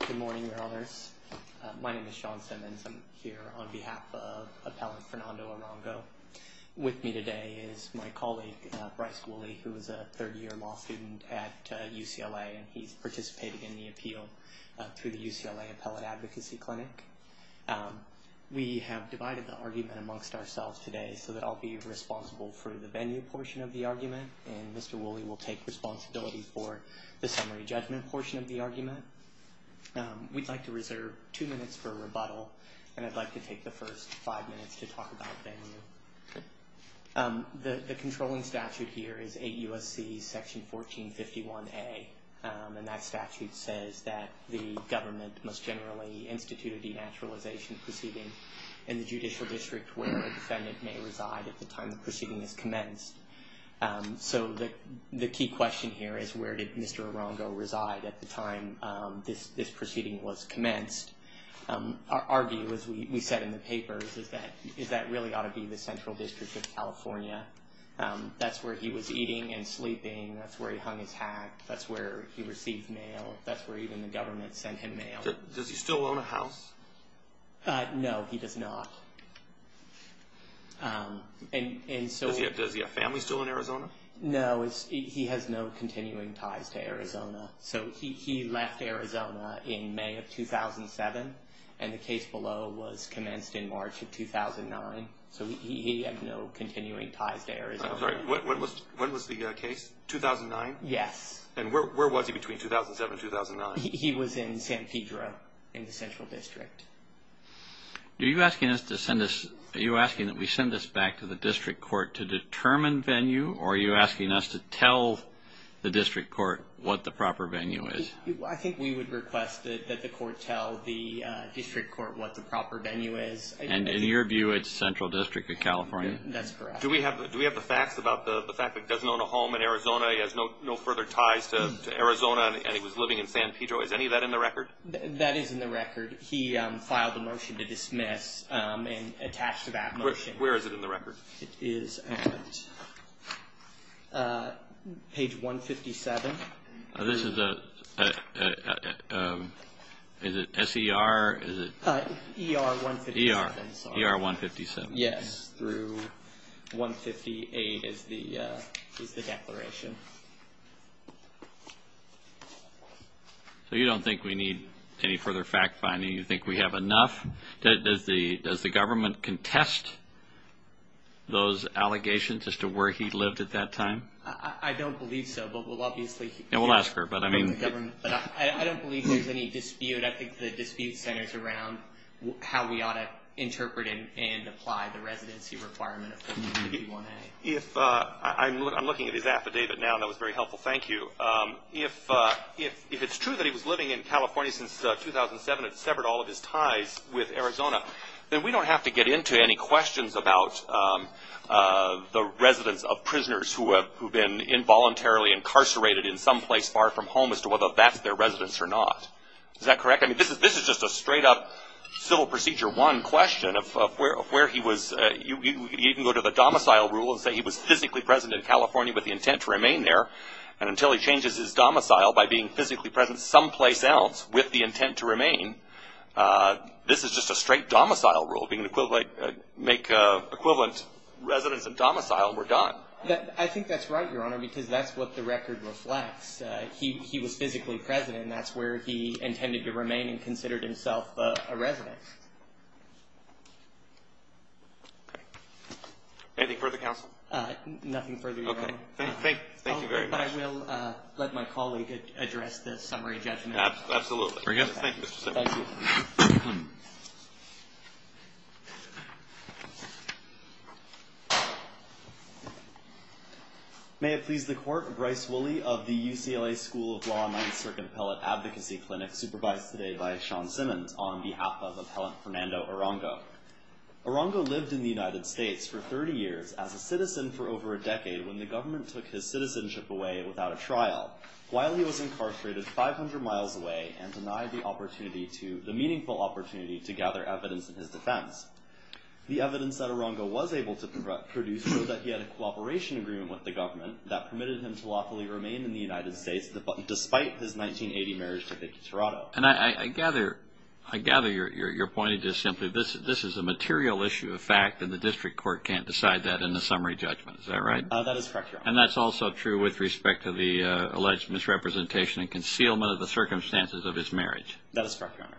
Good morning, brothers. My name is Sean Simmons. I'm here on behalf of Appellant Fernando Arango. With me today is my colleague, Bryce Woolley, who is a third-year law student at UCLA, and he's participating in the appeal through the UCLA Appellate Advocacy Clinic. We have divided the argument amongst ourselves today so that I'll be responsible for the venue portion of the argument, and Mr. Woolley will take responsibility for the summary judgment portion of the argument. We'd like to reserve two minutes for rebuttal, and I'd like to take the first five minutes to talk about venue. The controlling statute here is 8 U.S.C. section 1451A, and that statute says that the government must generally institute a denaturalization proceeding in the judicial district where a defendant may reside at the time the proceeding is commenced. So the key question here is where did Mr. Arango reside at the time this proceeding was commenced? Our view is we said in the papers is that really ought to be the Central District of California. That's where he was eating and sleeping. That's where he hung his hat. That's where he received mail. That's where even the government sent him mail. Does he still own a house? No, he does not. Does he have family still in Arizona? No, he has no continuing ties to Arizona. So he left Arizona in May of 2007, and the case below was commenced in March of 2009. So he had no continuing ties to Arizona. When was the case? 2009? Yes. And where was he between 2007 and 2009? He was in San Pedro in the Central District. Are you asking that we send this back to the district court to determine venue, or are you asking us to tell the district court what the proper venue is? I think we would request that the court tell the district court what the proper venue is. And in your view, it's Central District of California. That's correct. Do we have the facts about the fact that he doesn't own a home in Arizona, he has no further ties to Arizona, and he was living in San Pedro? Is any of that in the record? That is in the record. He filed a motion to dismiss and attached to that motion. Where is it in the record? It is at page 157. This is a—is it S-E-R? E-R 157. E-R 157. Yes, through 158 is the declaration. So you don't think we need any further fact-finding? You think we have enough? Does the government contest those allegations as to where he lived at that time? I don't believe so, but we'll obviously— We'll ask her, but I mean— I don't believe there's any dispute. I think the dispute centers around how we ought to interpret and apply the residency requirement of 151A. I'm looking at his affidavit now, and that was very helpful. Thank you. If it's true that he was living in California since 2007 and severed all of his ties with Arizona, then we don't have to get into any questions about the residence of prisoners who have been involuntarily incarcerated in some place far from home as to whether that's their residence or not. Is that correct? I mean, this is just a straight-up civil procedure one question of where he was—you can even go to the domicile rule and say he was physically present in California with the intent to remain there, and until he changes his domicile by being physically present someplace else with the intent to remain, this is just a straight domicile rule, being an equivalent—make equivalent residence and domicile, and we're done. I think that's right, Your Honor, because that's what the record reflects. He was physically present, and that's where he intended to remain and considered himself a resident. Anything further, counsel? Nothing further, Your Honor. Okay. Thank you very much. I will let my colleague address the summary judgment. Absolutely. Thank you, Mr. Simmons. Thank you. May it please the Court, Bryce Woolley of the UCLA School of Law Ninth Circuit Appellate Advocacy Clinic supervised today by Sean Simmons on behalf of Appellant Fernando Arango. Arango lived in the United States for 30 years as a citizen for over a decade when the government took his citizenship away without a trial. While he was incarcerated 500 miles away and denied the meaningful opportunity to gather evidence in his defense. The evidence that Arango was able to produce showed that he had a cooperation agreement with the government that permitted him to lawfully remain in the United States despite his 1980 marriage to Vicki Tirado. And I gather you're pointing to simply this is a material issue of fact, and the district court can't decide that in the summary judgment. Is that right? That is correct, Your Honor. And that's also true with respect to the alleged misrepresentation and concealment of the circumstances of his marriage. That is correct, Your Honor.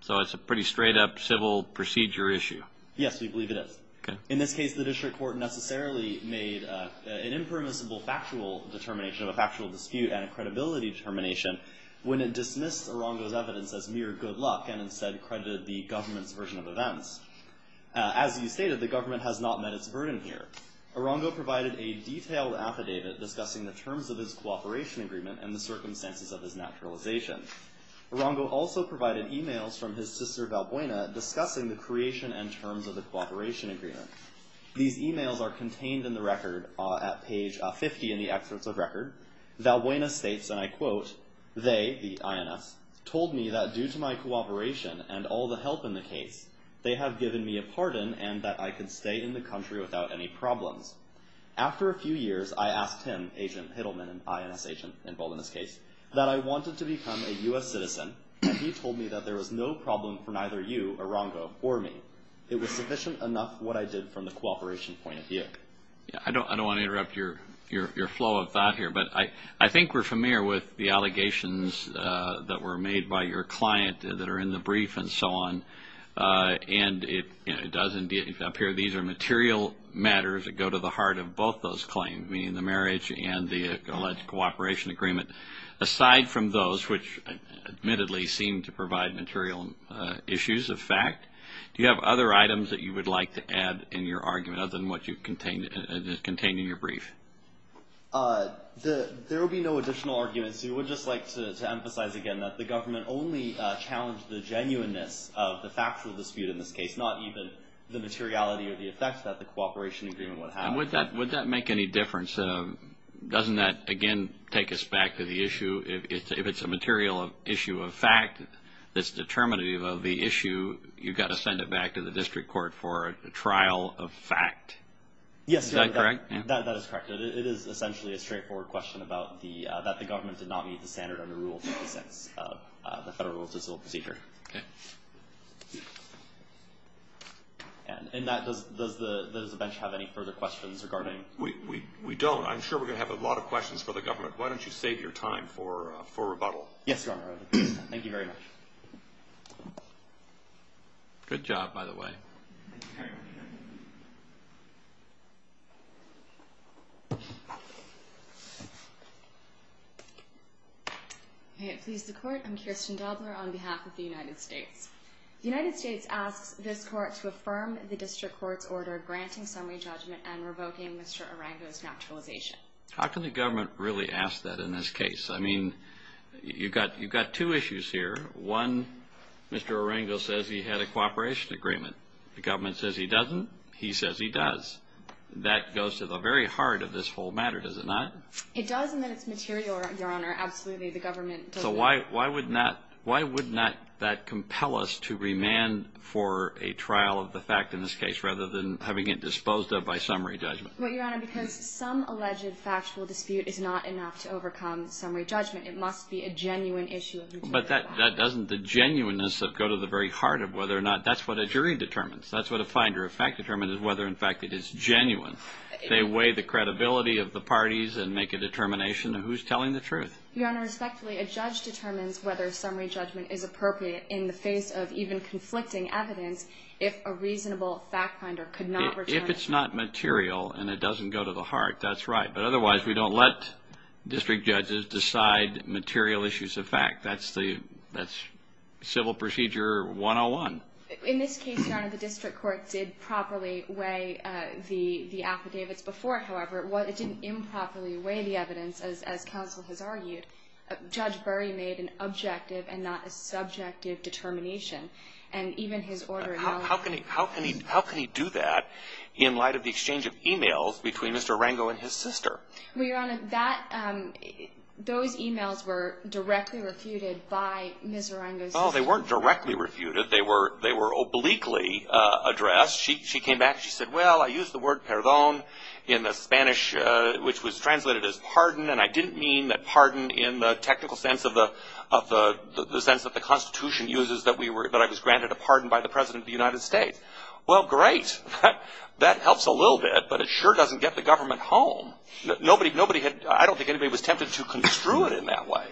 So it's a pretty straight up civil procedure issue. Yes, we believe it is. Okay. In this case, the district court necessarily made an impermissible factual determination, a factual dispute and a credibility determination when it dismissed Arango's evidence as mere good luck and instead credited the government's version of events. As you stated, the government has not met its burden here. Arango provided a detailed affidavit discussing the terms of his cooperation agreement and the circumstances of his naturalization. Arango also provided e-mails from his sister Valbuena discussing the creation and terms of the cooperation agreement. These e-mails are contained in the record at page 50 in the excerpts of record. Valbuena states, and I quote, They, the INS, told me that due to my cooperation and all the help in the case, they have given me a pardon and that I can stay in the country without any problems. After a few years, I asked him, Agent Hittleman, an INS agent involved in this case, that I wanted to become a U.S. citizen, and he told me that there was no problem for neither you, Arango, or me. It was sufficient enough what I did from the cooperation point of view. I don't want to interrupt your flow of thought here, but I think we're familiar with the allegations that were made by your client that are in the brief and so on, and it does appear these are material matters that go to the heart of both those claims, meaning the marriage and the alleged cooperation agreement. Aside from those, which admittedly seem to provide material issues of fact, do you have other items that you would like to add in your argument other than what is contained in your brief? There will be no additional arguments. We would just like to emphasize again that the government only challenged the genuineness of the factual dispute in this case, not even the materiality or the effect that the cooperation agreement would have. Would that make any difference? Doesn't that, again, take us back to the issue? If it's a material issue of fact that's determinative of the issue, you've got to send it back to the district court for a trial of fact. Yes. Is that correct? That is correct. It is essentially a straightforward question about that the government did not meet the standard under Rule 26 of the Federal Rule of Civil Procedure. Okay. In that, does the bench have any further questions regarding? We don't. I'm sure we're going to have a lot of questions for the government. Why don't you save your time for rebuttal? Yes, Your Honor. Thank you very much. Good job, by the way. May it please the Court, I'm Kirsten Dobler on behalf of the United States. The United States asks this Court to affirm the district court's order granting summary judgment and revoking Mr. Arango's naturalization. How can the government really ask that in this case? I mean, you've got two issues here. One, Mr. Arango says he had a cooperation agreement. The government says he doesn't. He says he does. That goes to the very heart of this whole matter, does it not? It does and that it's material, Your Honor. Absolutely, the government doesn't. So why would not that compel us to remand for a trial of the fact in this case rather than having it disposed of by summary judgment? Well, Your Honor, because some alleged factual dispute is not enough to overcome summary judgment. It must be a genuine issue of material fact. But that doesn't the genuineness go to the very heart of whether or not that's what a jury determines. That's what a finder of fact determines is whether in fact it is genuine. They weigh the credibility of the parties and make a determination of who's telling the truth. Your Honor, respectfully, a judge determines whether summary judgment is appropriate in the face of even conflicting evidence if a reasonable fact finder could not return it. If it's not material and it doesn't go to the heart, that's right. But otherwise, we don't let district judges decide material issues of fact. That's Civil Procedure 101. In this case, Your Honor, the district court did properly weigh the affidavits. Before, however, it didn't improperly weigh the evidence, as counsel has argued. Judge Burry made an objective and not a subjective determination. How can he do that in light of the exchange of e-mails between Mr. Arango and his sister? Well, Your Honor, those e-mails were directly refuted by Ms. Arango's sister. Oh, they weren't directly refuted. They were obliquely addressed. She came back and she said, well, I used the word perdón in the Spanish, which was translated as pardon, and I didn't mean that pardon in the technical sense of the sense that the Constitution uses that I was granted a pardon by the President of the United States. Well, great. That helps a little bit, but it sure doesn't get the government home. I don't think anybody was tempted to construe it in that way.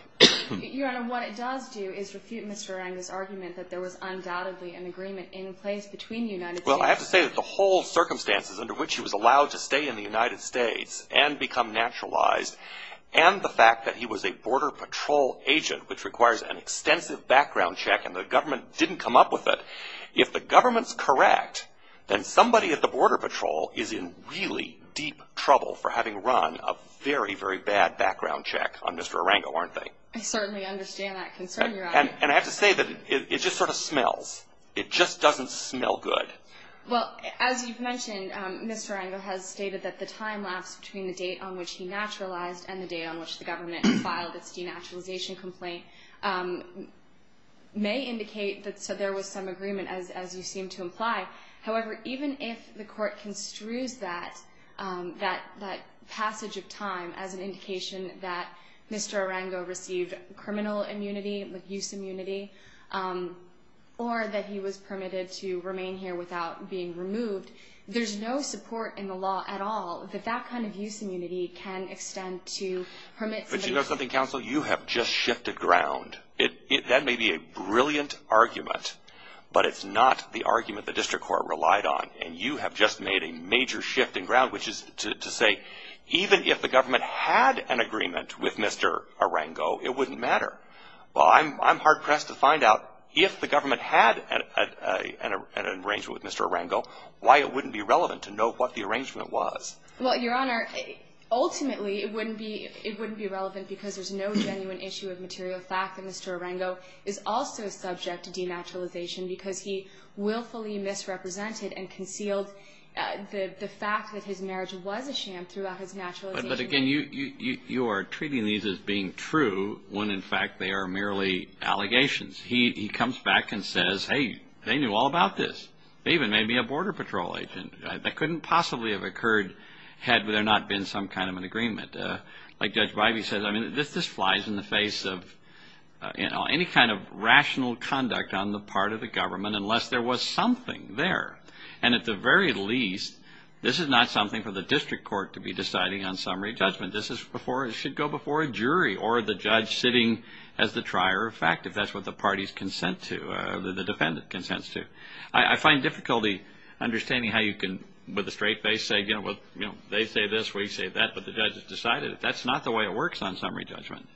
Your Honor, what it does do is refute Mr. Arango's argument that there was undoubtedly an agreement in place between the United States Well, I have to say that the whole circumstances under which he was allowed to stay in the United States and become naturalized, and the fact that he was a Border Patrol agent, which requires an extensive background check and the government didn't come up with it, if the government's correct, then somebody at the Border Patrol is in really deep trouble for having run a very, very bad background check on Mr. Arango, aren't they? I certainly understand that concern, Your Honor. And I have to say that it just sort of smells. It just doesn't smell good. Well, as you've mentioned, Mr. Arango has stated that the time lapse between the date on which he naturalized and the date on which the government filed its denaturalization complaint may indicate that there was some agreement, as you seem to imply. However, even if the court construes that passage of time as an indication that Mr. Arango received criminal immunity, use immunity, or that he was permitted to remain here without being removed, there's no support in the law at all that that kind of use immunity can extend to permits. But you know something, counsel? You have just shifted ground. That may be a brilliant argument, but it's not the argument the district court relied on, and you have just made a major shift in ground, which is to say, even if the government had an agreement with Mr. Arango, it wouldn't matter. Well, I'm hard-pressed to find out, if the government had an arrangement with Mr. Arango, why it wouldn't be relevant to know what the arrangement was. Well, Your Honor, ultimately it wouldn't be relevant because there's no genuine issue of material fact that Mr. Arango is also subject to denaturalization because he willfully misrepresented and concealed the fact that his marriage was a sham throughout his naturalization. But again, you are treating these as being true when, in fact, they are merely allegations. He comes back and says, hey, they knew all about this. They even made me a border patrol agent. That couldn't possibly have occurred had there not been some kind of an agreement. Like Judge Bivey says, I mean, this flies in the face of, you know, any kind of rational conduct on the part of the government unless there was something there. And at the very least, this is not something for the district court to be deciding on summary judgment. This should go before a jury or the judge sitting as the trier of fact, if that's what the parties consent to, the defendant consents to. I find difficulty understanding how you can, with a straight face, say, you know, they say this, we say that, but the judge has decided it. That's not the way it works on summary judgment.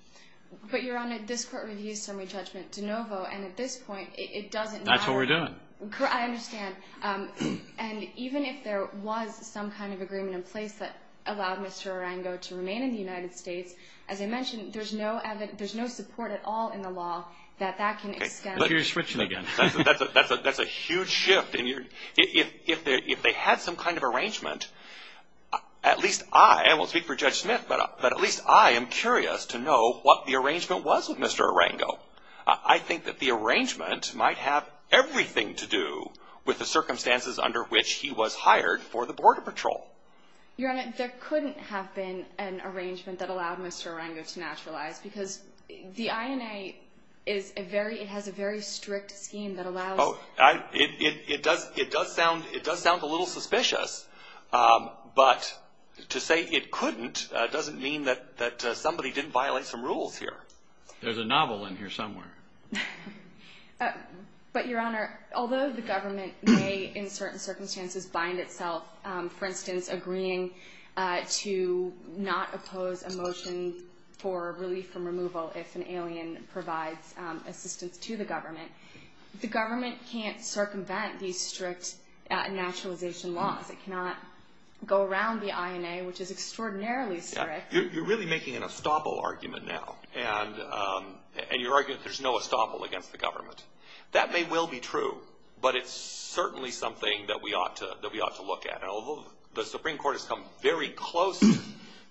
But, Your Honor, this Court reviews summary judgment de novo, and at this point it doesn't matter. That's what we're doing. I understand. And even if there was some kind of agreement in place that allowed Mr. Arango to remain in the United States, as I mentioned, there's no support at all in the law that that can extend. You're switching again. That's a huge shift. If they had some kind of arrangement, at least I, and I won't speak for Judge Smith, but at least I am curious to know what the arrangement was with Mr. Arango. I think that the arrangement might have everything to do with the circumstances under which he was hired for the Border Patrol. Your Honor, there couldn't have been an arrangement that allowed Mr. Arango to naturalize, because the INA is a very, it has a very strict scheme that allows. It does, it does sound, it does sound a little suspicious. But to say it couldn't doesn't mean that somebody didn't violate some rules here. There's a novel in here somewhere. But, Your Honor, although the government may, in certain circumstances, bind itself, for instance, agreeing to not oppose a motion for relief from removal if an alien provides assistance to the government, the government can't circumvent these strict naturalization laws. It cannot go around the INA, which is extraordinarily strict. You're really making an estoppel argument now, and you're arguing that there's no estoppel against the government. That may well be true, but it's certainly something that we ought to look at. And although the Supreme Court has come very close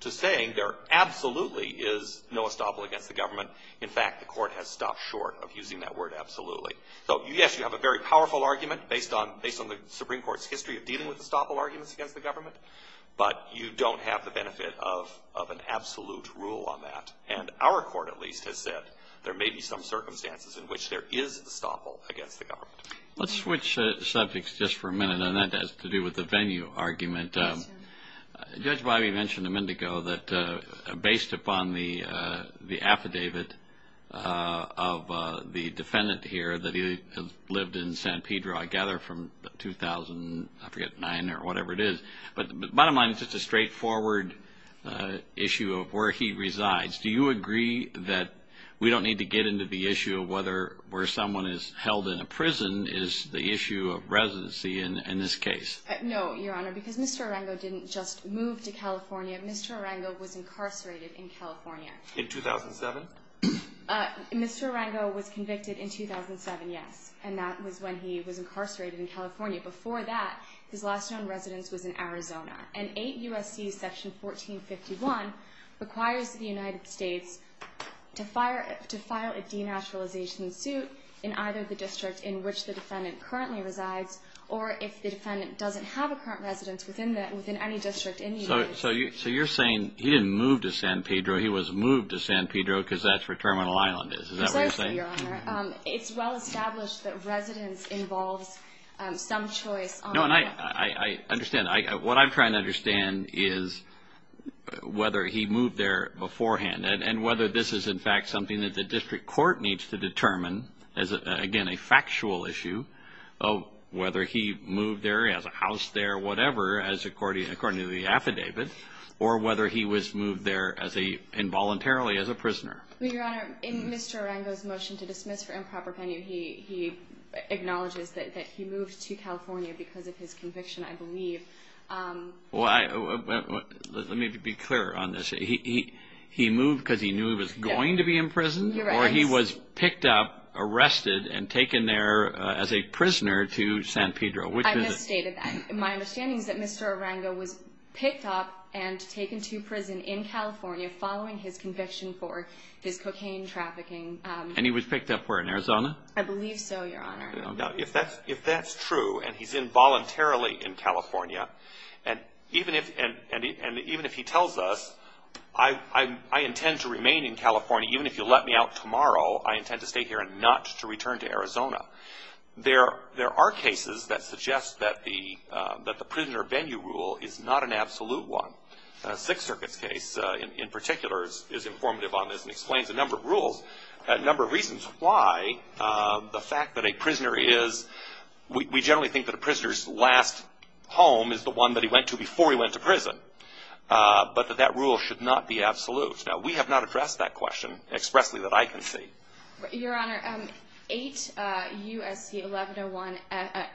to saying there absolutely is no estoppel against the government, in fact, the court has stopped short of using that word absolutely. So, yes, you have a very powerful argument based on the Supreme Court's history of dealing with estoppel arguments against the government, but you don't have the benefit of an absolute rule on that. And our court, at least, has said there may be some circumstances in which there is estoppel against the government. Let's switch subjects just for a minute, and that has to do with the venue argument. Judge Biby mentioned a minute ago that based upon the affidavit of the defendant here that he lived in San Pedro, I gather from 2009 or whatever it is, but bottom line, it's just a straightforward issue of where he resides. Do you agree that we don't need to get into the issue of whether where someone is held in a prison is the issue of residency in this case? No, Your Honor, because Mr. Arango didn't just move to California. Mr. Arango was incarcerated in California. In 2007? Mr. Arango was convicted in 2007, yes, and that was when he was incarcerated in California. Before that, his last known residence was in Arizona. And 8 U.S.C. section 1451 requires the United States to file a denaturalization suit in either the district in which the defendant currently resides or if the defendant doesn't have a current residence within any district in the United States. So you're saying he didn't move to San Pedro. He was moved to San Pedro because that's where Terminal Island is. Is that what you're saying? It's well established that residence involves some choice. I understand. What I'm trying to understand is whether he moved there beforehand and whether this is, in fact, something that the district court needs to determine as, again, a factual issue, whether he moved there, he has a house there, whatever, according to the affidavit, or whether he was moved there involuntarily as a prisoner. Well, Your Honor, in Mr. Arango's motion to dismiss for improper penalty, he acknowledges that he moved to California because of his conviction, I believe. Well, let me be clear on this. He moved because he knew he was going to be in prison? Or he was picked up, arrested, and taken there as a prisoner to San Pedro? I misstated that. My understanding is that Mr. Arango was picked up and taken to prison in California following his conviction for his cocaine trafficking. And he was picked up where, in Arizona? I believe so, Your Honor. If that's true and he's involuntarily in California, and even if he tells us, I intend to remain in California, even if you let me out tomorrow, I intend to stay here and not to return to Arizona, there are cases that suggest that the prisoner venue rule is not an absolute one. Sixth Circuit's case, in particular, is informative on this and explains a number of rules, a number of reasons why the fact that a prisoner is, we generally think that a prisoner's last home is the one that he went to before he went to prison, but that that rule should not be absolute. Now, we have not addressed that question expressly that I can see. Your Honor, 8 U.S.C. 1101,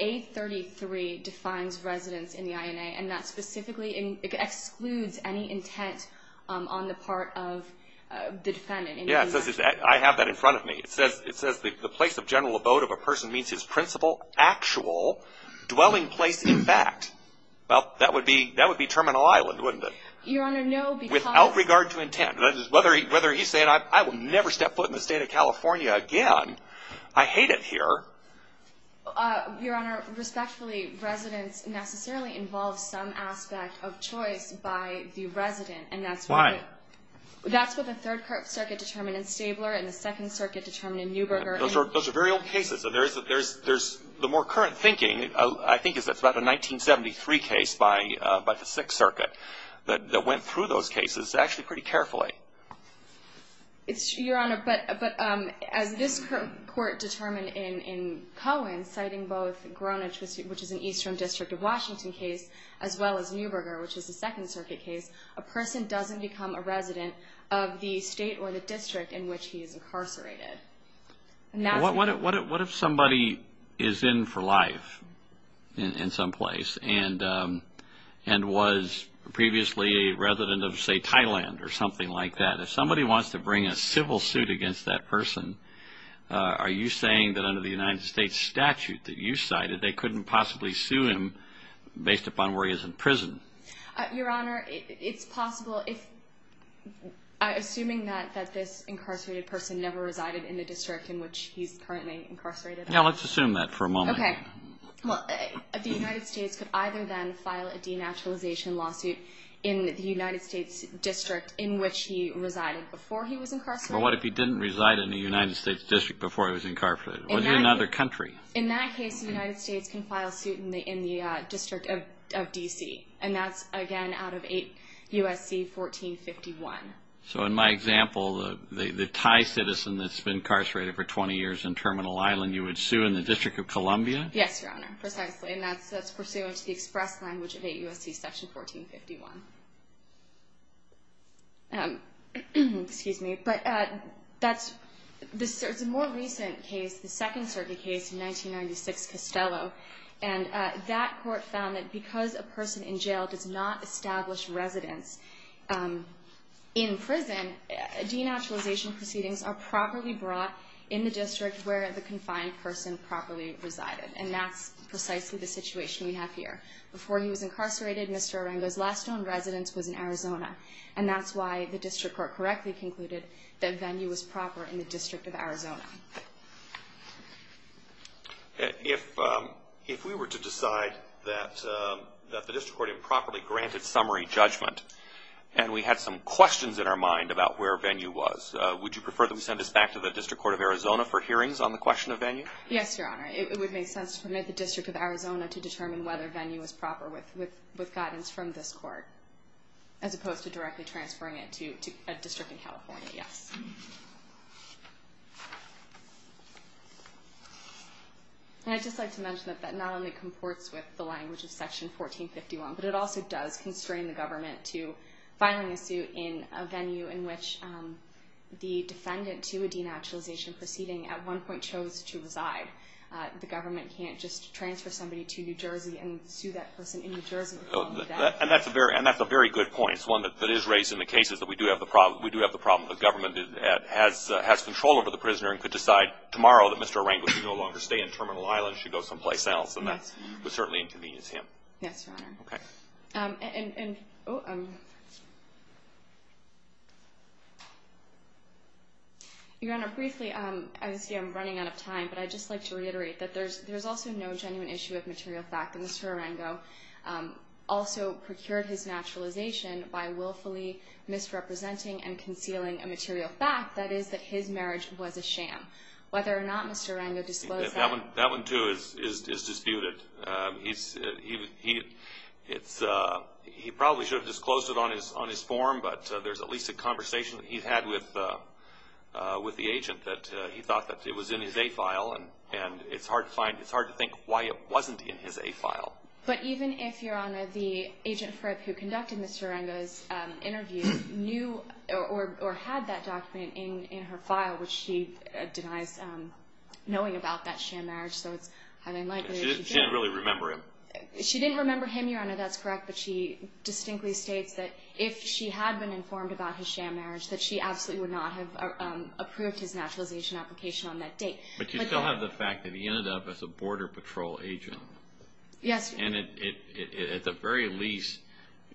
A33 defines residence in the INA, and that specifically excludes any intent on the part of the defendant. Yes, I have that in front of me. It says the place of general abode of a person means his principal actual dwelling place, in fact. Well, that would be Terminal Island, wouldn't it? Your Honor, no, because— Without regard to intent. Whether he's saying, I will never step foot in the state of California again, I hate it here. Your Honor, respectfully, residence necessarily involves some aspect of choice by the resident. Why? That's what the Third Circuit determined in Stabler and the Second Circuit determined in Neuberger. Those are very old cases. The more current thinking, I think, is that it's about a 1973 case by the Sixth Circuit that went through those cases actually pretty carefully. Your Honor, but as this Court determined in Cohen, citing both Gronage, which is an Eastern District of Washington case, as well as Neuberger, which is a Second Circuit case, a person doesn't become a resident of the state or the district in which he is incarcerated. What if somebody is in for life in some place and was previously a resident of, say, Thailand or something like that? If somebody wants to bring a civil suit against that person, are you saying that under the United States statute that you cited, they couldn't possibly sue him based upon where he is in prison? Your Honor, it's possible. Assuming that this incarcerated person never resided in the district in which he's currently incarcerated. Let's assume that for a moment. Okay. The United States could either then file a denaturalization lawsuit in the United States district in which he resided before he was incarcerated. But what if he didn't reside in the United States district before he was incarcerated? Was he in another country? In that case, the United States can file a suit in the district of D.C., and that's, again, out of 8 U.S.C. 1451. So in my example, the Thai citizen that's been incarcerated for 20 years in Terminal Island, you would sue in the District of Columbia? Yes, Your Honor, precisely. And that's pursuant to the express language of 8 U.S.C. Section 1451. Excuse me. But it's a more recent case, the Second Circuit case in 1996, Costello. And that court found that because a person in jail does not establish residence in prison, denaturalization proceedings are properly brought in the district where the confined person properly resided. And that's precisely the situation we have here. Before he was incarcerated, Mr. Arango's last known residence was in Arizona, and that's why the district court correctly concluded that Venue was proper in the District of Arizona. If we were to decide that the district court improperly granted summary judgment and we had some questions in our mind about where Venue was, would you prefer that we send this back to the District Court of Arizona for hearings on the question of Venue? Yes, Your Honor. It would make sense to permit the District of Arizona to determine whether Venue was proper with guidance from this court, as opposed to directly transferring it to a district in California, yes. And I'd just like to mention that that not only comports with the language of Section 1451, but it also does constrain the government to filing a suit in a venue in which the defendant to a denaturalization proceeding at one point chose to reside. The government can't just transfer somebody to New Jersey and sue that person in New Jersey. And that's a very good point. It's one that is raised in the cases that we do have the problem. The government has control over the prisoner and could decide tomorrow that Mr. Arango should no longer stay in Terminal Island and should go someplace else, and that would certainly inconvenience him. Yes, Your Honor. Okay. Your Honor, briefly, obviously I'm running out of time, but I'd just like to reiterate that there's also no genuine issue of material fact that Mr. Arango also procured his naturalization by willfully misrepresenting and concealing a material fact, that is, that his marriage was a sham. Whether or not Mr. Arango disclosed that. That one, too, is disputed. He probably should have disclosed it on his form, but there's at least a conversation he had with the agent that he thought that it was in his A-file, and it's hard to think why it wasn't in his A-file. But even if, Your Honor, the agent who conducted Mr. Arango's interview knew or had that document in her file, which she denies knowing about that sham marriage, so it's highly unlikely that she did. She didn't really remember him. She didn't remember him, Your Honor, that's correct, but she distinctly states that if she had been informed about his sham marriage, that she absolutely would not have approved his naturalization application on that date. But you still have the fact that he ended up as a Border Patrol agent. Yes. And it at the very least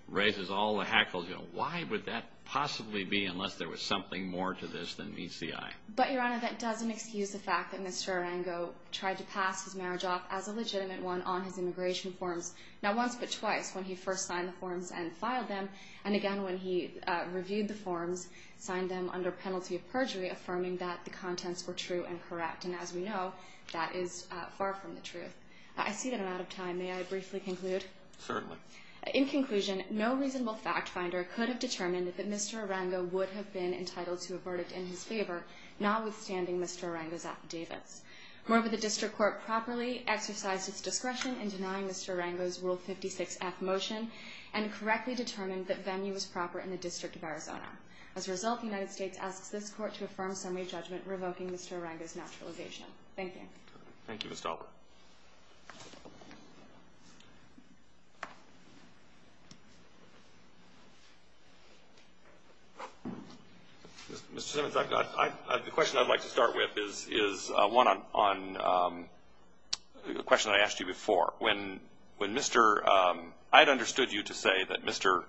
raises all the hackles, you know, why would that possibly be unless there was something more to this than meets the eye? But, Your Honor, that doesn't excuse the fact that Mr. Arango tried to pass his marriage off as a legitimate one on his immigration forms. Not once but twice, when he first signed the forms and filed them, and again when he reviewed the forms, signed them under penalty of perjury, affirming that the contents were true and correct. And as we know, that is far from the truth. I see that I'm out of time. May I briefly conclude? Certainly. In conclusion, no reasonable fact finder could have determined that Mr. Arango would have been entitled to a verdict in his favor, notwithstanding Mr. Arango's affidavits. Moreover, the District Court properly exercised its discretion in denying Mr. Arango's Rule 56-F motion and correctly determined that venue was proper in the District of Arizona. As a result, the United States asks this Court to affirm summary judgment revoking Mr. Arango's naturalization. Thank you. Thank you, Ms. Talbert. Mr. Simmons, the question I'd like to start with is one on a question I asked you before. When Mr. – I'd understood you to say that Mr.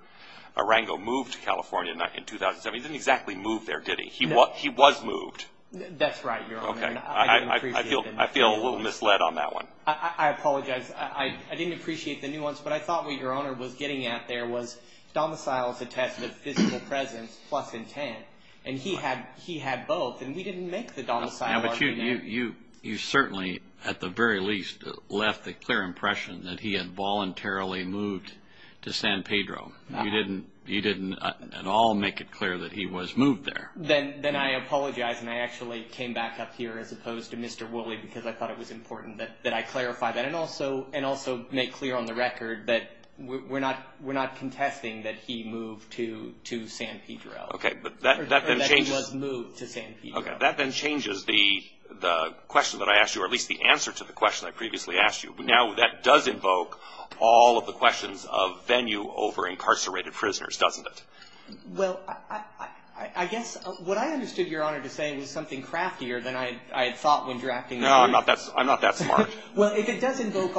Arango moved to California in 2007. He didn't exactly move there, did he? No. He was moved. That's right, Your Honor. Okay. I feel a little misled on that one. I apologize. I didn't appreciate the nuance, but I thought what Your Honor was getting at there was domiciles attested of physical presence plus intent. And he had both, and we didn't make the domicile argument. But you certainly, at the very least, left the clear impression that he had voluntarily moved to San Pedro. You didn't at all make it clear that he was moved there. Then I apologize, and I actually came back up here as opposed to Mr. Woolley because I thought it was important that I clarify that. And also make clear on the record that we're not contesting that he moved to San Pedro. Okay. Or that he was moved to San Pedro. That then changes the question that I asked you, or at least the answer to the question I previously asked you. Now that does invoke all of the questions of venue over incarcerated prisoners, doesn't it? Well, I guess what I understood Your Honor to say was something craftier than I had thought when drafting the argument. No, I'm not that smart. Well, if it does invoke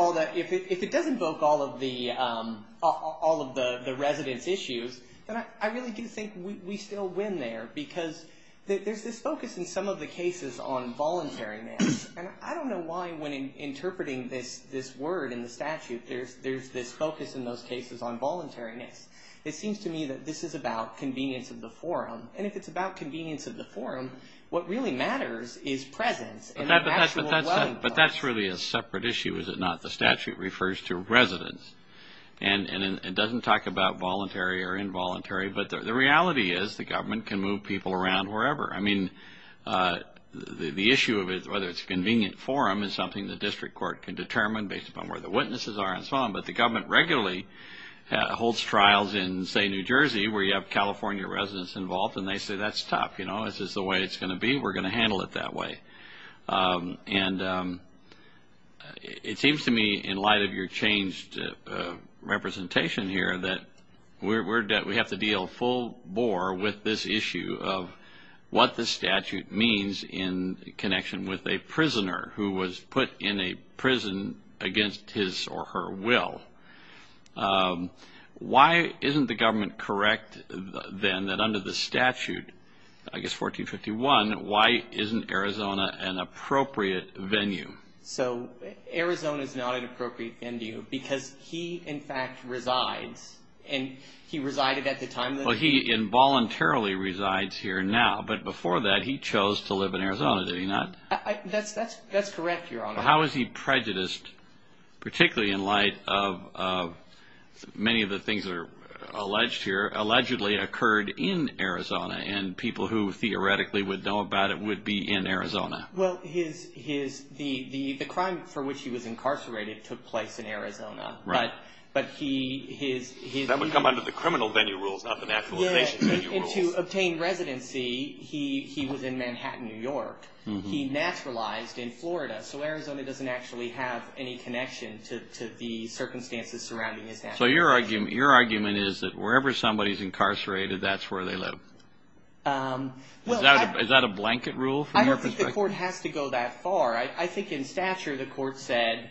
all of the residence issues, then I really do think we still win there. Because there's this focus in some of the cases on voluntariness. And I don't know why when interpreting this word in the statute there's this focus in those cases on voluntariness. It seems to me that this is about convenience of the forum. And if it's about convenience of the forum, what really matters is presence. But that's really a separate issue, is it not? The statute refers to residence. And it doesn't talk about voluntary or involuntary. But the reality is the government can move people around wherever. I mean, the issue of whether it's a convenient forum is something the district court can determine based upon where the witnesses are. But the government regularly holds trials in, say, New Jersey, where you have California residents involved. And they say, that's tough. You know, is this the way it's going to be? We're going to handle it that way. And it seems to me, in light of your changed representation here, that we have to deal full bore with this issue of what the statute means in connection with a prisoner who was put in a prison against his or her will. Why isn't the government correct, then, that under the statute, I guess 1451, why isn't Arizona an appropriate venue? So Arizona is not an appropriate venue because he, in fact, resides. And he resided at the time. Well, he involuntarily resides here now. But before that, he chose to live in Arizona, did he not? That's correct, Your Honor. How is he prejudiced, particularly in light of many of the things that are alleged here, allegedly occurred in Arizona and people who theoretically would know about it would be in Arizona? Well, the crime for which he was incarcerated took place in Arizona. Right. That would come under the criminal venue rules, not the naturalization venue rules. And to obtain residency, he was in Manhattan, New York. He naturalized in Florida. So Arizona doesn't actually have any connection to the circumstances surrounding his naturalization. So your argument is that wherever somebody is incarcerated, that's where they live. Is that a blanket rule from your perspective? I don't think the court has to go that far. I think in stature, the court said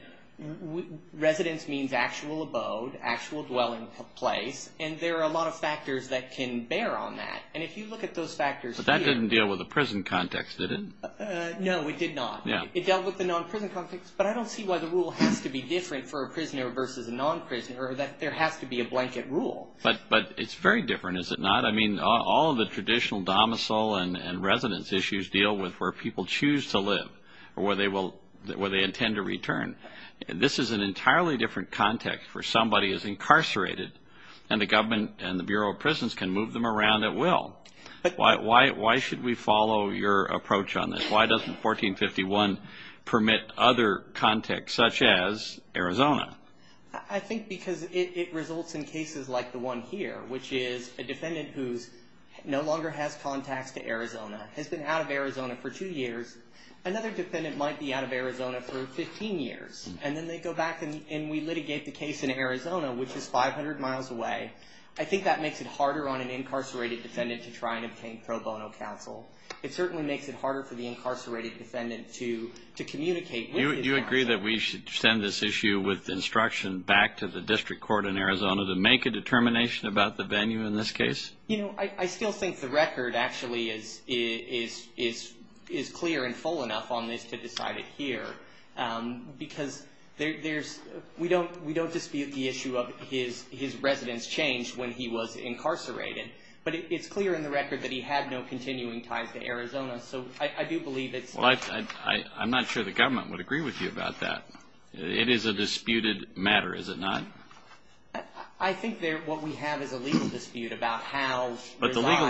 residence means actual abode, actual dwelling place. And there are a lot of factors that can bear on that. And if you look at those factors here. But that didn't deal with the prison context, did it? No, it did not. It dealt with the non-prison context. But I don't see why the rule has to be different for a prisoner versus a non-prisoner, that there has to be a blanket rule. But it's very different, is it not? I mean, all of the traditional domicile and residence issues deal with where people choose to live or where they intend to return. This is an entirely different context where somebody is incarcerated and the government and the Bureau of Prisons can move them around at will. Why should we follow your approach on this? Why doesn't 1451 permit other contexts, such as Arizona? I think because it results in cases like the one here, which is a defendant who no longer has contacts to Arizona, has been out of Arizona for two years. Another defendant might be out of Arizona for 15 years. And then they go back and we litigate the case in Arizona, which is 500 miles away. I think that makes it harder on an incarcerated defendant to try and obtain pro bono counsel. It certainly makes it harder for the incarcerated defendant to communicate with his family. You agree that we should send this issue with instruction back to the district court in Arizona to make a determination about the venue in this case? You know, I still think the record actually is clear and full enough on this to decide it here. Because we don't dispute the issue of his residence change when he was incarcerated. But it's clear in the record that he had no continuing ties to Arizona. So I do believe it's – Well, I'm not sure the government would agree with you about that. It is a disputed matter, is it not? I think what we have is a legal dispute about how – But the legal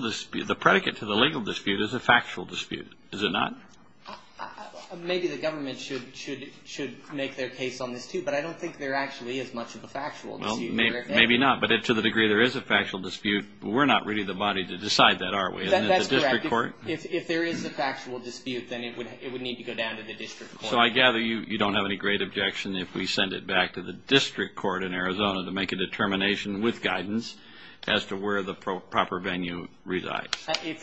dispute – the predicate to the legal dispute is a factual dispute. Is it not? Maybe the government should make their case on this, too. But I don't think there actually is much of a factual dispute. Maybe not. But to the degree there is a factual dispute, we're not really the body to decide that, are we? That's correct. If there is a factual dispute, then it would need to go down to the district court. So I gather you don't have any great objection if we send it back to the district court in Arizona to make a determination with guidance as to where the proper venue resides. If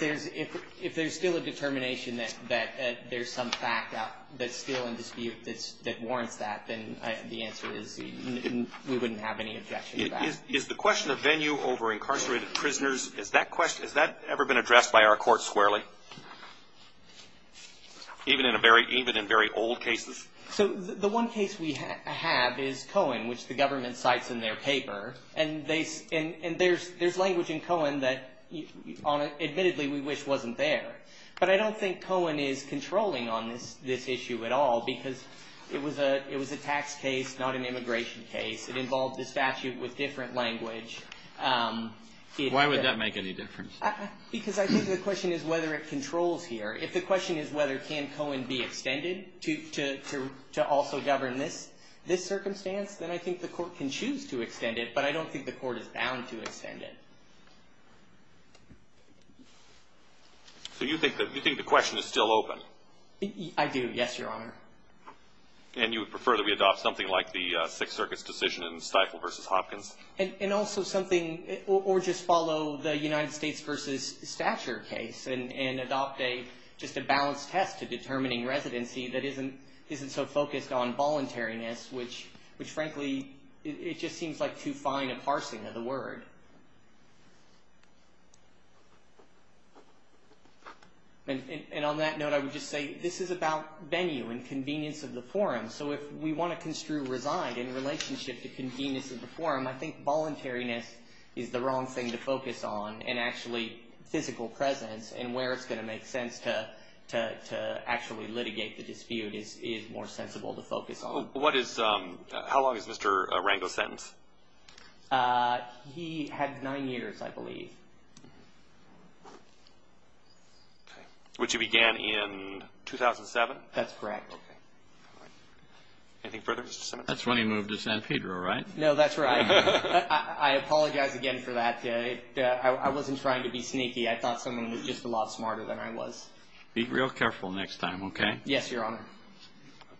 there's still a determination that there's some fact that's still in dispute that warrants that, then the answer is we wouldn't have any objection to that. Is the question of venue over incarcerated prisoners – has that ever been addressed by our court squarely? Even in very old cases? So the one case we have is Cohen, which the government cites in their paper. And there's language in Cohen that admittedly we wish wasn't there. But I don't think Cohen is controlling on this issue at all because it was a tax case, not an immigration case. It involved a statute with different language. Why would that make any difference? Because I think the question is whether it controls here. If the question is whether can Cohen be extended to also govern this circumstance, then I think the court can choose to extend it. But I don't think the court is bound to extend it. So you think the question is still open? I do, yes, Your Honor. And you would prefer that we adopt something like the Sixth Circuit's decision in Stifle v. Hopkins? And also something – or just follow the United States v. Stature case and adopt just a balanced test to determining residency that isn't so focused on voluntariness, which frankly it just seems like too fine a parsing of the word. And on that note, I would just say this is about venue and convenience of the forum. So if we want to construe resigned in relationship to convenience of the forum, I think voluntariness is the wrong thing to focus on, and actually physical presence and where it's going to make sense to actually litigate the dispute is more sensible to focus on. How long is Mr. Rango's sentence? He had nine years, I believe. Which he began in 2007? That's correct. Anything further, Mr. Simmons? That's when he moved to San Pedro, right? No, that's right. I apologize again for that. I wasn't trying to be sneaky. I thought someone was just a lot smarter than I was. Be real careful next time, okay? Yes, Your Honor.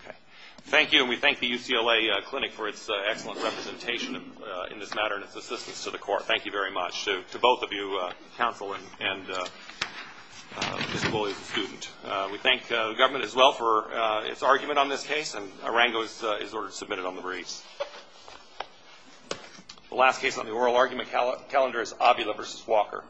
Okay. Thank you, and we thank the UCLA Clinic for its excellent representation in this matter and its assistance to the court. Thank you very much to both of you, counsel and Mr. Bulley as a student. We thank the government as well for its argument on this case, and Rango is ordered to submit it on the briefs. The last case on the oral argument calendar is Avila v. Walker.